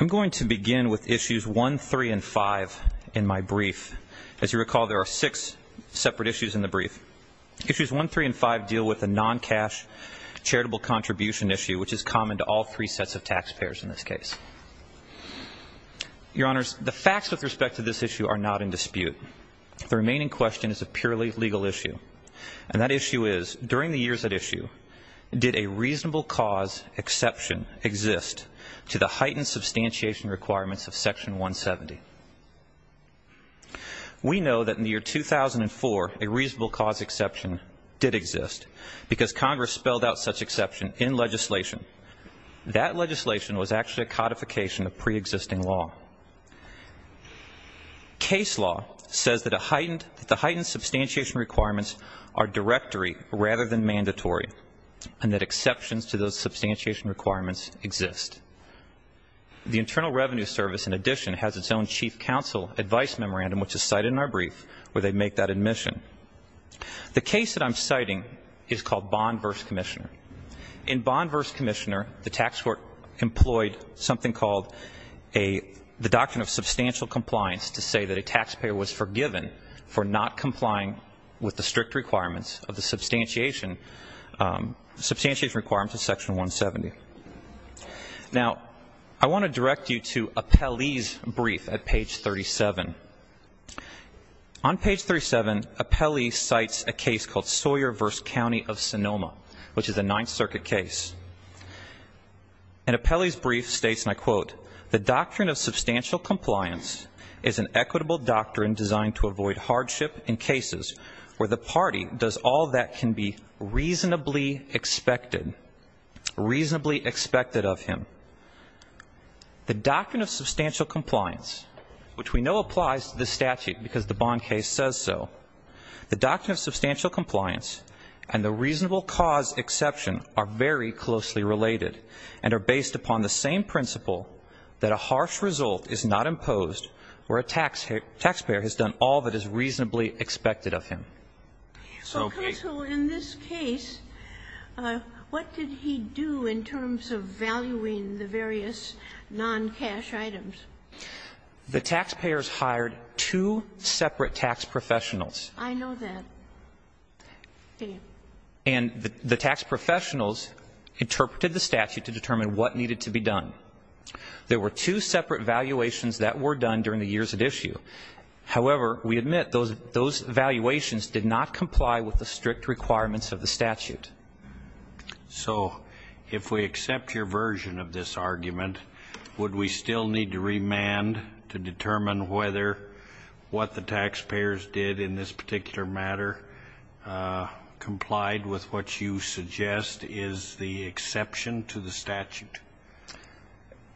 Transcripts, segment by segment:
I'm going to begin with issues 1, 3, and 5 in my brief. As you recall, there are six separate issues in the brief. Issues 1, 3, and 5 deal with a non-cash charitable contribution issue, which is common to all three sets of taxpayers in this case. Your Honors, the facts with respect to this issue are not in dispute. The remaining question is a purely legal issue. And that issue is, during the years at issue, did a reasonable cause exception exist to the heightened substantiation requirements of Section 170? We know that in the year 2004, a reasonable cause exception did exist because Congress spelled out such exception in legislation. That legislation was actually a codification of pre-existing law. Case law says that a reasonable cause are directory rather than mandatory, and that exceptions to those substantiation requirements exist. The Internal Revenue Service, in addition, has its own chief counsel advice memorandum, which is cited in our brief, where they make that admission. The case that I'm citing is called Bond v. Commissioner. In Bond v. Commissioner, the tax court employed something called the Doctrine of Substantial Compliance to say that a taxpayer was forgiven for not complying with the strict requirements of the substantiation requirements of Section 170. Now, I want to direct you to Apelli's brief at page 37. On page 37, Apelli cites a case called Sawyer v. County of Sonoma, which is a Ninth Circuit case. And Apelli's brief states, and I quote, the Doctrine of Substantial Compliance is an equitable doctrine designed to avoid hardship in cases where the party does all that can be reasonably expected, reasonably expected of him. The Doctrine of Substantial Compliance, which we know applies to this statute because the Bond case says so, the Doctrine of Substantial Compliance and the reasonable cause exception are very closely related and are based upon the same principle that a harsh result is not imposed where a taxpayer has done all that is reasonably expected of him. So, Counsel, in this case, what did he do in terms of valuing the various non-cash items? The taxpayers hired two separate tax professionals. I know that. And the tax professionals interpreted the statute to determine what needed to be done. There were two separate valuations that were done during the years at issue. However, we admit those valuations did not comply with the strict requirements of the statute. So if we accept your version of this argument, would we still need to remand to determine whether what the taxpayers did in this particular matter complied with what you suggest is the exception to the statute?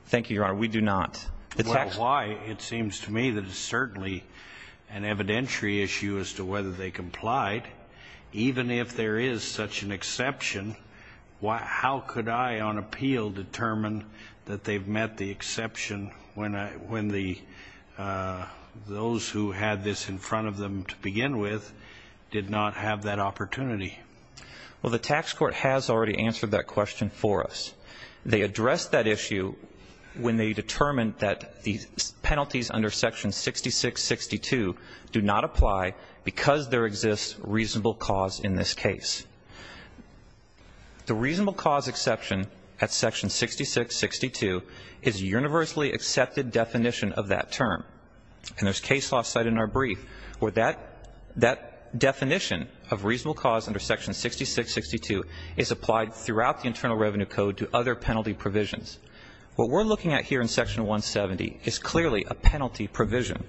Thank you, Your Honor. We do not. Well, why? It seems to me that it's certainly an evidentiary issue as to whether they complied. Even if there is such an exception, how could I on appeal determine that they've met the criteria? Those who had this in front of them to begin with did not have that opportunity. Well, the tax court has already answered that question for us. They addressed that issue when they determined that the penalties under Section 6662 do not apply because there exists reasonable cause in this case. The reasonable cause exception at Section 6662 is a universally accepted definition of that term. And there's case law cited in our brief where that definition of reasonable cause under Section 6662 is applied throughout the Internal Revenue Code to other penalty provisions. What we're looking at here in Section 170 is clearly a penalty provision.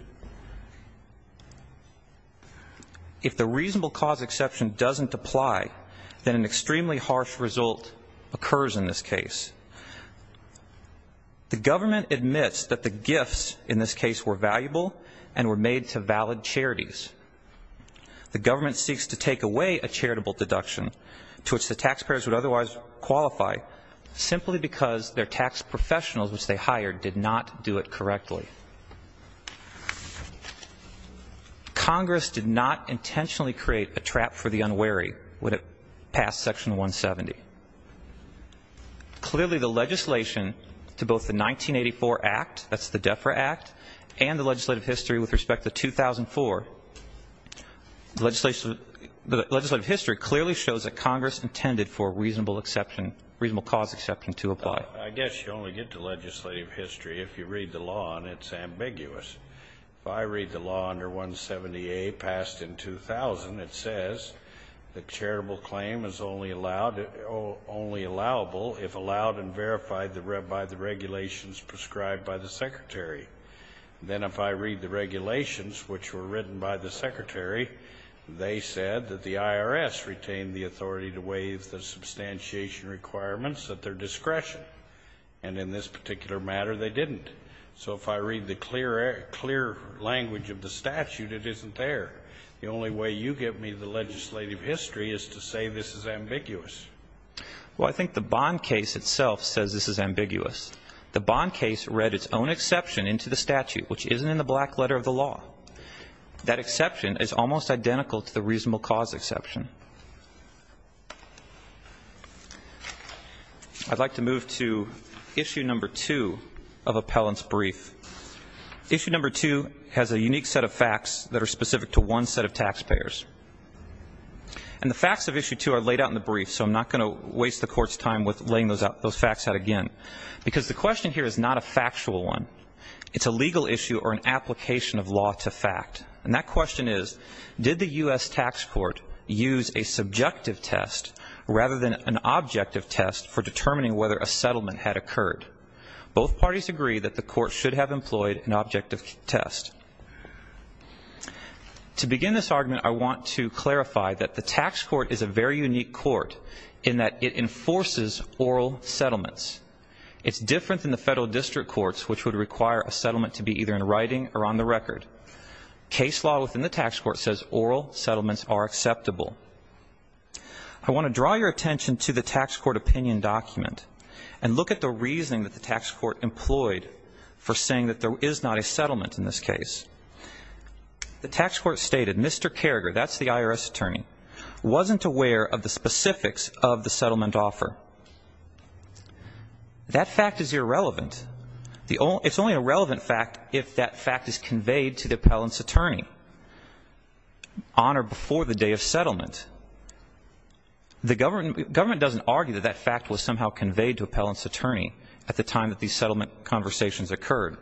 If the reasonable cause exception doesn't apply, then an extremely harsh result occurs in this case. The government admits that the gifts in this case were valuable and were made to valid charities. The government seeks to take away a charitable deduction to which the taxpayers would otherwise qualify simply because their tax professionals which they were. Congress did not intentionally create a trap for the unwary when it passed Section 170. Clearly, the legislation to both the 1984 Act, that's the DEFRA Act, and the legislative history with respect to 2004, the legislative history clearly shows that Congress intended for reasonable exception, reasonable cause exception to apply. I guess you only get to legislative history if you read the law and it's ambiguous. If I read the law under 170A, passed in 2000, it says that charitable claim is only allowable if allowed and verified by the regulations prescribed by the Secretary. Then if I read the regulations which were written by the Secretary, they said that the IRS retained the authority to waive the substantiation requirements at their discretion. And in this particular matter, they didn't. So if I read the clear language of the statute, it isn't there. The only way you give me the legislative history is to say this is ambiguous. Well, I think the Bond case itself says this is ambiguous. The Bond case read its own exception into the statute, which isn't in the black letter of the law. That exception is almost identical to the reasonable cause exception. I'd like to move to issue number two of appellant's brief. Issue number two has a unique set of facts that are specific to one set of taxpayers. And the facts of issue two are laid out in the brief, so I'm not going to waste the Court's time with laying those facts out again. Because the question here is not a factual one. It's a legal issue or an application of law to fact. And that question is, did the U.S. Tax Court use a subjective test rather than an objective test for determining whether a settlement had occurred? Both parties agree that the Court should have employed an objective test. To begin this argument, I want to clarify that the tax court is a very unique court in that it enforces oral settlements. It's different than the federal district courts, which would require a settlement to be either in writing or on the record. Case law within the tax court says oral settlements are acceptable. I want to draw your attention to the tax court opinion document and look at the reasoning that the tax court employed for saying that there is not a settlement in this case. The tax court stated, Mr. Carragher, that's the IRS attorney, wasn't aware of the specifics of the settlement offer. That fact is irrelevant. It's only a relevant fact if that fact is conveyed to the appellant's attorney on or before the day of settlement. The government doesn't argue that that fact was somehow conveyed to appellant's attorney at the time that these settlement conversations occurred.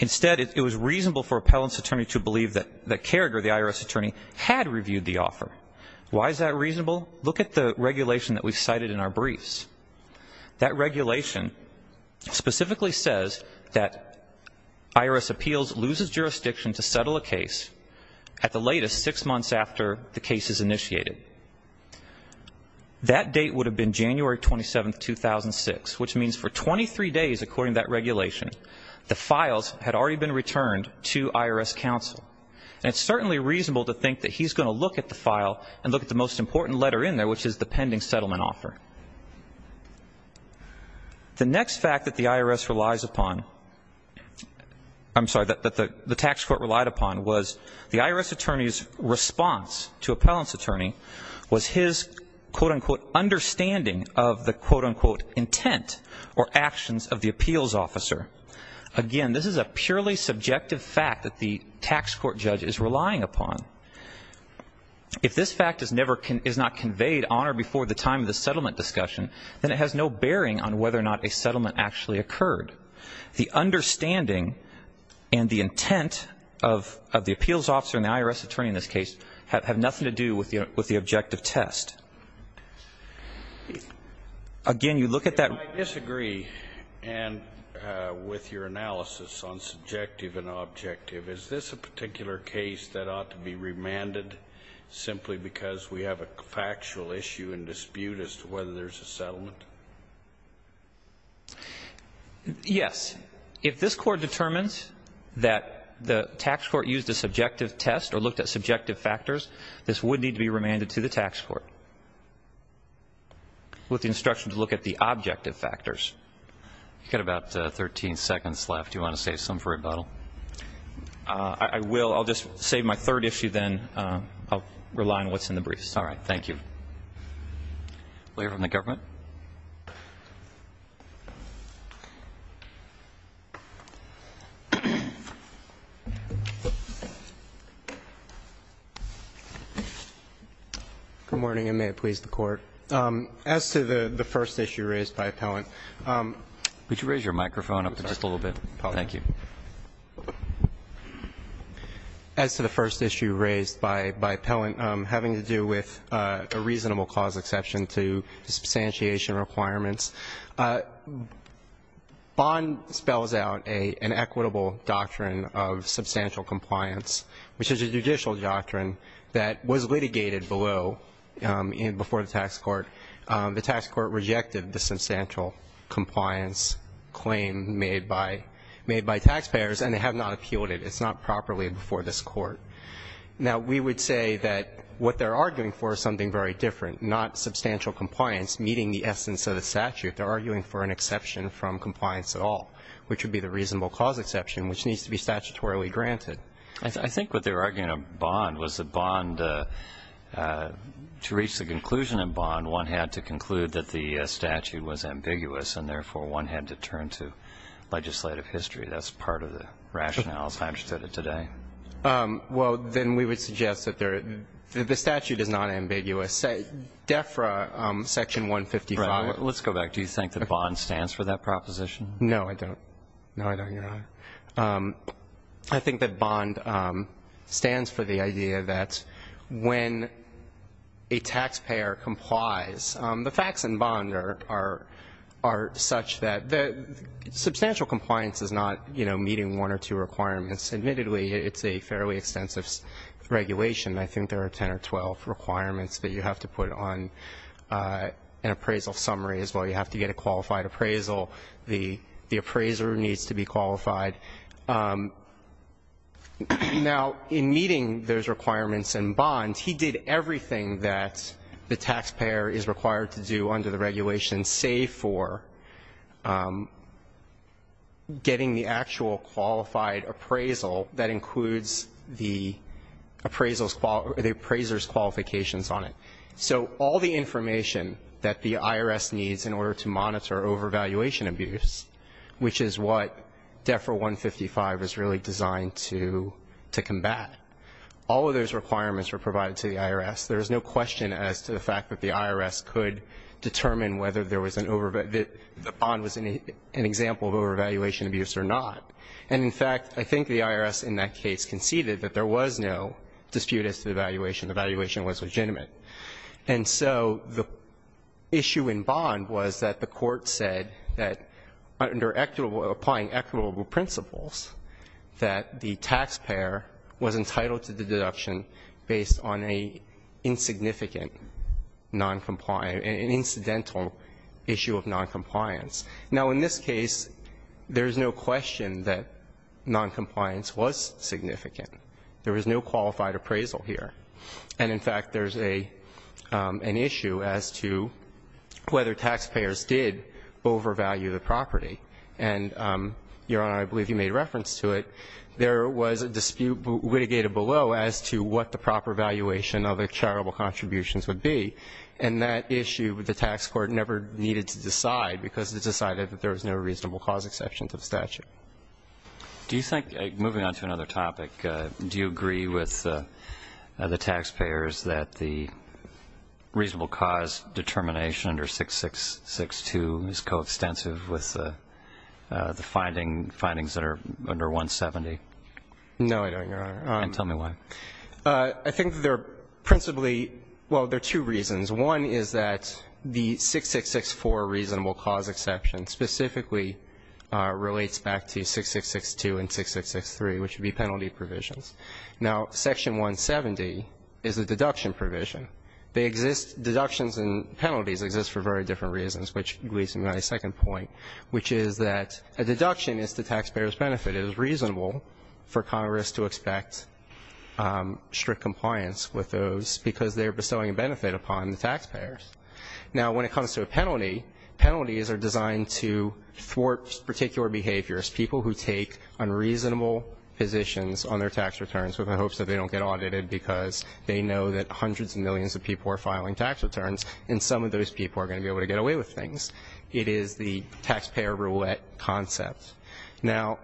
Instead, it was reasonable for appellant's attorney to believe that Carragher, the IRS attorney, had reviewed the offer. Why is that reasonable? Look at the regulation that we've cited in our briefs. That regulation specifically says that IRS appeals loses jurisdiction to settle a case at the latest six months after the case is initiated. That date would have been January 27, 2006, which means for 23 days, according to that regulation, the files had already been returned to IRS counsel. It's certainly reasonable to think that he's going to look at the file and look at the most important letter in there, which is the settlement. The next fact that the IRS relies upon, I'm sorry, that the tax court relied upon was the IRS attorney's response to appellant's attorney was his, quote-unquote, understanding of the, quote-unquote, intent or actions of the appeals officer. Again, this is a purely subjective fact that the tax court judge is relying upon. If this fact is never, is not in the settlement discussion, then it has no bearing on whether or not a settlement actually occurred. The understanding and the intent of the appeals officer and the IRS attorney in this case have nothing to do with the objective test. Again, you look at that ---- I disagree with your analysis on subjective and objective. Is this a particular case that we have a factual issue and dispute as to whether there's a settlement? Yes. If this Court determines that the tax court used a subjective test or looked at subjective factors, this would need to be remanded to the tax court with the instruction to look at the objective factors. You've got about 13 seconds left. Do you want to save some for rebuttal? I will. I'll just save my third issue, then. I'll rely on what's in the briefs. All right. Thank you. Lawyer from the government. Good morning, and may it please the Court. As to the first issue raised by Appellant ---- Could you raise your microphone up just a little bit? Thank you. As to the first issue raised by Appellant having to do with a reasonable clause exception to the substantiation requirements, Bond spells out an equitable doctrine of substantial compliance, which is a judicial doctrine that was litigated below, before the tax court. The tax court rejected the substantial compliance and they have not appealed it. It's not properly before this Court. Now, we would say that what they're arguing for is something very different, not substantial compliance meeting the essence of the statute. They're arguing for an exception from compliance at all, which would be the reasonable clause exception, which needs to be statutorily granted. I think what they were arguing in Bond was that Bond, to reach the conclusion in Bond, one had to conclude that the statute was ambiguous, and therefore, one had to turn to legislative history. That's part of the rationale, as I understood it today. Well, then we would suggest that the statute is not ambiguous. DEFRA Section 155 Right. Let's go back. Do you think that Bond stands for that proposition? No, I don't. No, I don't, Your Honor. I think that Bond stands for the idea that when a taxpayer complies, the facts in Substantial compliance is not, you know, meeting one or two requirements. Admittedly, it's a fairly extensive regulation. I think there are 10 or 12 requirements that you have to put on an appraisal summary as well. You have to get a qualified appraisal. The appraiser needs to be qualified. Now, in meeting those requirements in Bond, he did everything that the taxpayer is required to do under the regulation, save for getting the actual qualified appraisal that includes the appraiser's qualifications on it. So all the information that the IRS needs in order to monitor overvaluation abuse, which is what DEFRA 155 is really designed to combat, all of those things, the IRS could determine whether there was an overvaluation abuse or not. And, in fact, I think the IRS in that case conceded that there was no dispute as to the valuation. The valuation was legitimate. And so the issue in Bond was that the Court said that under equitable, applying equitable principles, that the taxpayer was entitled to the deduction based on a significant noncompliance, an incidental issue of noncompliance. Now, in this case, there's no question that noncompliance was significant. There was no qualified appraisal here. And, in fact, there's an issue as to whether taxpayers did overvalue the property. And, Your Honor, I believe you made reference to it. There was a dispute litigated below as to what the proper valuation of the charitable contributions would be. And that issue, the tax court never needed to decide because it decided that there was no reasonable cause exception to the statute. Do you think, moving on to another topic, do you agree with the taxpayers that the reasonable cause determination under 6662 is coextensive with the findings that are under 170? No, I don't, Your Honor. And tell me why. I think there are principally – well, there are two reasons. One is that the 6664 reasonable cause exception specifically relates back to 6662 and 6663, which would be penalty provisions. Now, Section 170 is a deduction provision. They exist – deductions and penalties exist for very different reasons, which leads me to my second point, which is that a deduction is to taxpayers' benefit. It is reasonable for Congress to expect strict compliance with those because they're bestowing a benefit upon the taxpayers. Now, when it comes to a penalty, penalties are designed to thwart particular behaviors, people who take unreasonable positions on their tax returns with the hopes that they don't get audited because they know that hundreds of millions of people are filing tax returns, and some of those people are going to be able to get away with things. It is the taxpayer roulette concept. Now,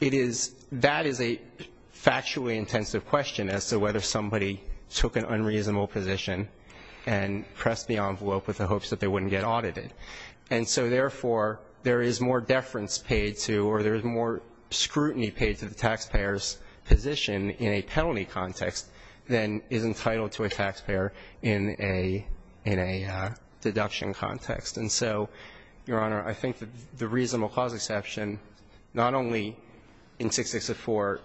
it is – that is a factually intensive question as to whether somebody took an unreasonable position and pressed the envelope with the hopes that they wouldn't get audited. And so, therefore, there is more deference paid to or there is more scrutiny paid to the taxpayer's position in a penalty context than is entitled to a deduction context. And so, Your Honor, I think the reasonable cause exception not only in 664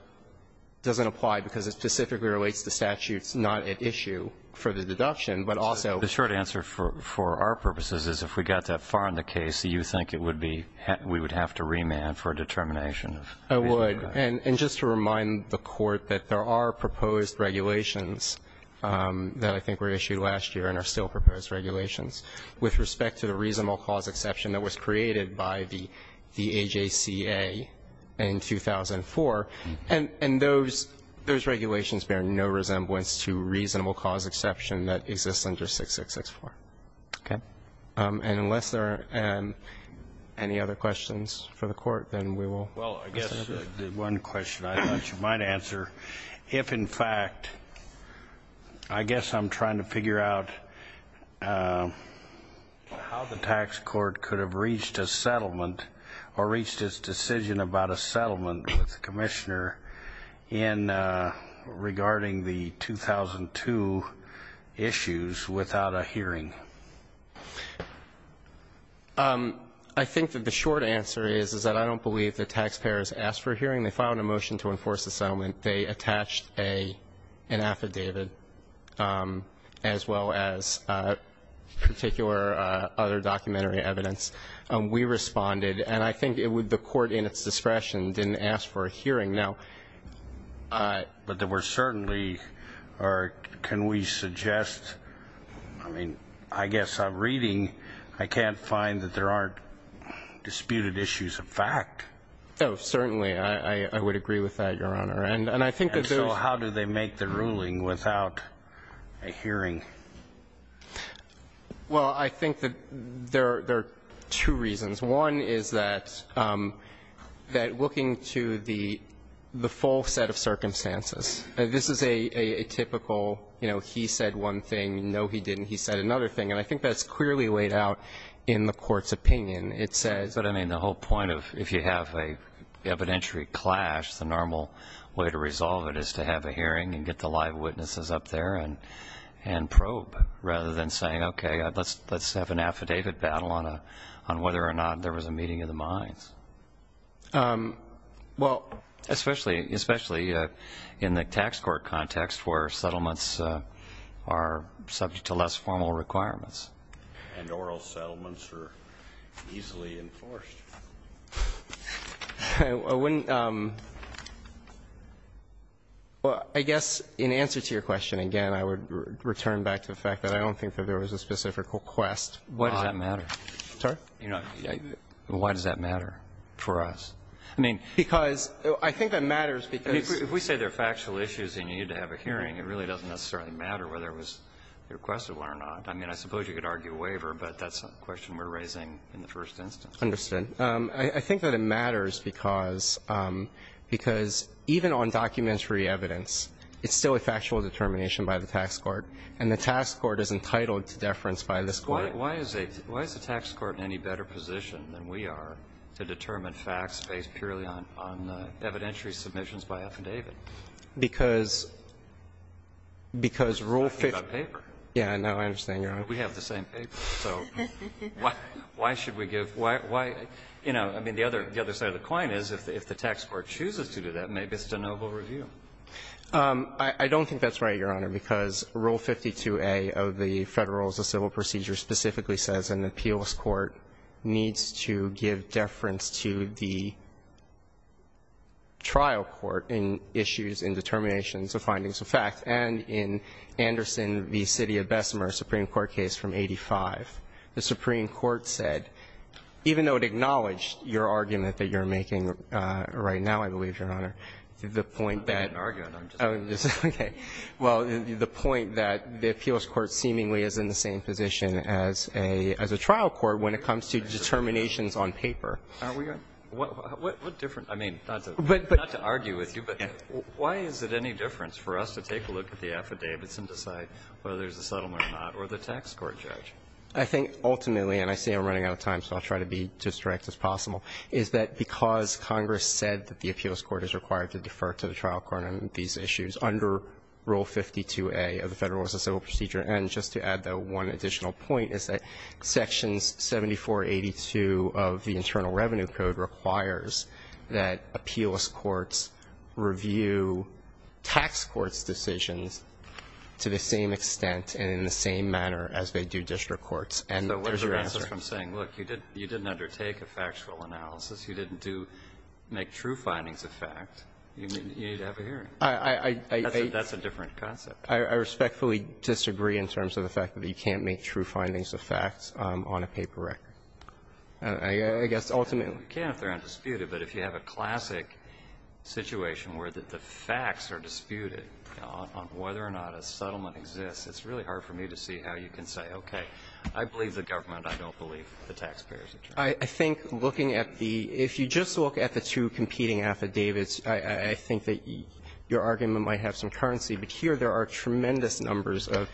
doesn't apply because it specifically relates to statutes not at issue for the deduction, but also – The short answer for our purposes is if we got that far in the case, do you think it would be – we would have to remand for a determination? I would. And just to remind the Court that there are proposed regulations that I think were proposed regulations with respect to the reasonable cause exception that was created by the AJCA in 2004. And those regulations bear no resemblance to reasonable cause exception that exists under 6664. Okay. And unless there are any other questions for the Court, then we will – Well, I guess the one question I thought you might answer, if, in fact, I guess I'm trying to figure out how the tax court could have reached a settlement or reached its decision about a settlement with the Commissioner in – regarding the 2002 issues without a hearing. I think that the short answer is that I don't believe the taxpayers asked for a hearing. They filed a motion to enforce the settlement. They attached an affidavit as well as particular other documentary evidence. We responded. And I think it would – the Court, in its discretion, didn't ask for a hearing. Now – But there were certainly – or can we suggest – I mean, I guess I'm reading. I can't find that there aren't disputed issues of fact. Oh, certainly. I would agree with that, Your Honor. And I think that there's – And so how do they make the ruling without a hearing? Well, I think that there are two reasons. One is that looking to the full set of circumstances. This is a typical, you know, he said one thing, no, he didn't. He said another thing. And I think that's clearly laid out in the Court's opinion. It says – Well, especially in the tax court context where settlements are subject to less formal requirements. And oral settlements are easily enforced. I wouldn't – well, I guess in answer to your question, again, I would return back to the fact that I don't think that there was a specific request. Why does that matter? Sorry? Why does that matter for us? I mean, because – I think that matters because – If we say they're factual issues and you need to have a hearing, it really doesn't necessarily matter whether it was requested or not. I mean, I suppose you could argue a waiver, but that's a question we're raising in the first instance. Understood. I think that it matters because – because even on documentary evidence, it's still a factual determination by the tax court. And the tax court is entitled to deference by this Court. Why is a – why is the tax court in any better position than we are to determine facts based purely on evidentiary submissions by affidavit? Because – because Rule 50 – We're talking about paper. Yeah, no, I understand. You're right. We have the same paper. So why should we give – why – you know, I mean, the other – the other side of the coin is if the tax court chooses to do that, maybe it's a noble review. I don't think that's right, Your Honor, because Rule 52a of the Federal Rules of Civil Procedure specifically says an appeals court needs to give deference to the trial court in issues and determinations of findings of fact. And in Anderson v. City of Bessemer, Supreme Court case from 85, the Supreme Court said, even though it acknowledged your argument that you're making right now, I believe, Your Honor, the point that – I'm not making an argument. I'm just – Okay. Well, the point that the appeals court seemingly is in the same position as a – as a trial court when it comes to determinations on paper. Are we – What – what difference – I mean, not to – But – What difference for us to take a look at the affidavits and decide whether there's a settlement or not or the tax court judge? I think ultimately – and I say I'm running out of time, so I'll try to be as direct as possible – is that because Congress said that the appeals court is required to defer to the trial court on these issues under Rule 52a of the Federal Rules of Civil Procedure, and just to add the one additional point, is that Sections 7482 of the Internal Revenue Code requires that appeals courts review types of tax court's decisions to the same extent and in the same manner as they do district courts. And there's your answer. So what's the difference from saying, look, you didn't undertake a factual analysis, you didn't do – make true findings of fact, you need to have a hearing? I – That's a different concept. I respectfully disagree in terms of the fact that you can't make true findings of facts on a paper record. I guess ultimately – You can if they're undisputed, but if you have a classic situation where the case is undisputed on whether or not a settlement exists, it's really hard for me to see how you can say, okay, I believe the government, I don't believe the taxpayers are trying. I think looking at the – if you just look at the two competing affidavits, I think that your argument might have some currency, but here there are tremendous numbers of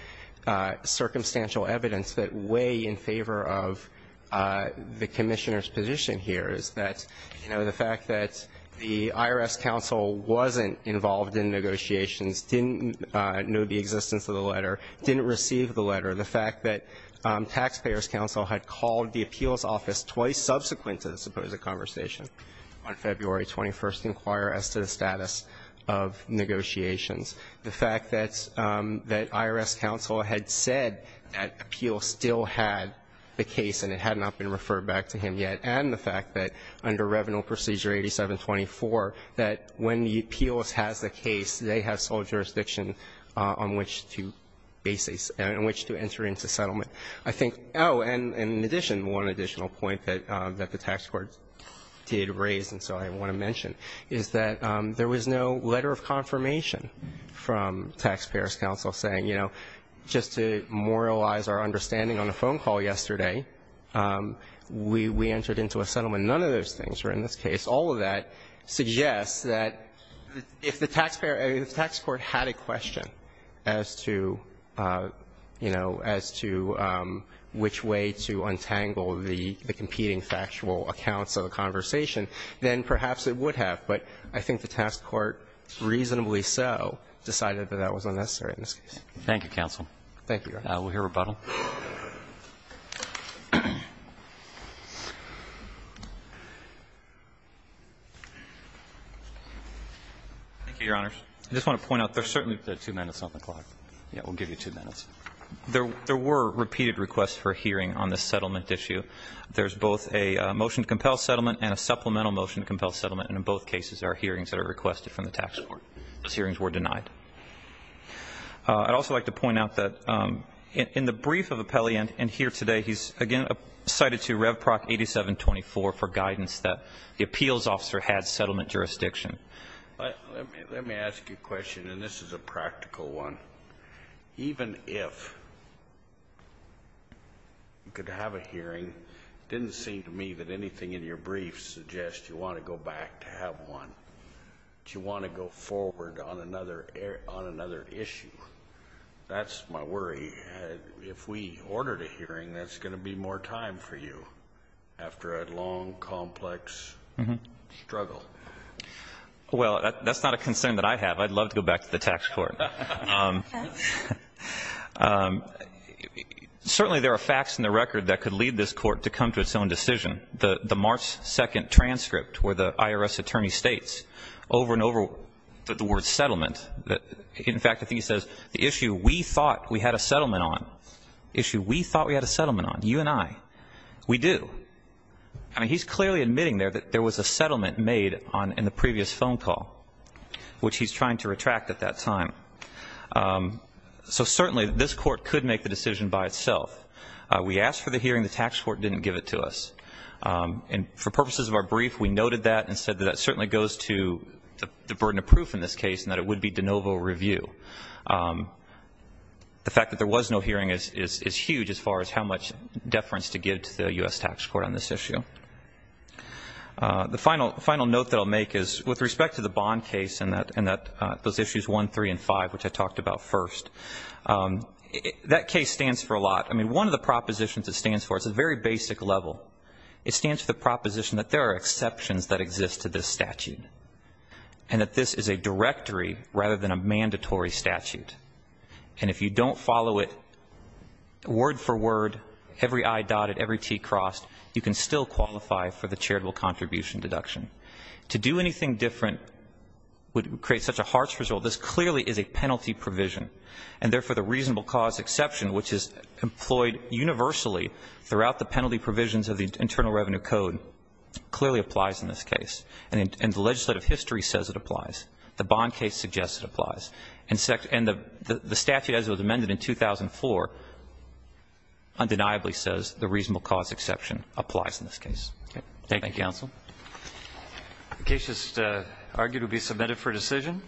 circumstantial evidence that weigh in favor of the Commissioner's position here, is that, you know, the fact that the IRS counsel wasn't involved in negotiations, didn't know the existence of the letter, didn't receive the letter, the fact that taxpayers' counsel had called the appeals office twice subsequent to the supposed conversation on February 21st to inquire as to the status of negotiations, the fact that IRS counsel had said that appeals still had the case and it had not been referred back to him yet, and the fact that under Revenue Procedure 8724, that when the appeals has the case, they have sole jurisdiction on which to enter into settlement. I think – oh, and in addition, one additional point that the tax court did raise and so I want to mention, is that there was no letter of confirmation from taxpayers' counsel saying, you know, just to memorialize our understanding on a phone call yesterday, we entered into a settlement. None of those things were in this case. All of that suggests that if the taxpayer – if the tax court had a question as to, you know, as to which way to untangle the competing factual accounts of the conversation, then perhaps it would have. But I think the tax court, reasonably so, decided that that was unnecessary in this case. Thank you, counsel. Thank you, Your Honor. We'll hear rebuttal. Thank you, Your Honors. I just want to point out, there's certainly – there are two minutes on the clock. Yeah, we'll give you two minutes. There were repeated requests for a hearing on this settlement issue. There's both a motion to compel settlement and a supplemental motion to compel settlement, and in both cases, there are hearings that are requested from the tax court. I'd also like to point out that in the brief that we have here, in the brief of Appellant, and here today, he's again cited to Rev. Proc. 8724 for guidance that the appeals officer had settlement jurisdiction. Let me ask you a question, and this is a practical one. Even if you could have a hearing, it didn't seem to me that anything in your brief suggests you want to go back to have one. Do you want to go forward on another issue? That's my worry. If we ordered a hearing, that's going to be more time for you after a long, complex struggle. Well, that's not a concern that I have. I'd love to go back to the tax court. Certainly, there are facts in the record that could lead this court to come to its own decision. The March 2 transcript where the IRS attorney states over and over the word settlement, in fact, I think he says, the issue we thought we had a settlement on, the issue we thought we had a settlement on, you and I, we do. He's clearly admitting there that there was a settlement made in the previous phone call, which he's trying to retract at that time. Certainly, this court could make the decision by itself. We asked for the hearing. The tax court didn't give it to us. For purposes of our brief, we noted that and said that that certainly goes to the burden of proof in this case and that it would be de novo review. The fact that there was no hearing is huge as far as how much deference to give to the U.S. tax court on this issue. The final note that I'll make is with respect to the Bond case and those issues 1, 3, and 5, which I talked about first, that case stands for a lot. I mean, one of the propositions it stands for, it's a very basic level, it stands for the proposition that there are exceptions that exist to this statute and that this is a directory rather than a mandatory statute. And if you don't follow it word for word, every I dotted, every T crossed, you can still qualify for the charitable contribution deduction. To do anything different would create such a harsh result. This clearly is a penalty provision. And therefore, the reasonable cause exception, which is employed universally throughout the penalty provisions of the Internal Revenue Code, clearly applies in this case. And the legislative history says it applies. The Bond case suggests it applies. And the statute, as it was amended in 2004, undeniably says the reasonable cause exception applies in this case. Thank you. Roberts. Thank you, counsel. The case is argued to be submitted for decision.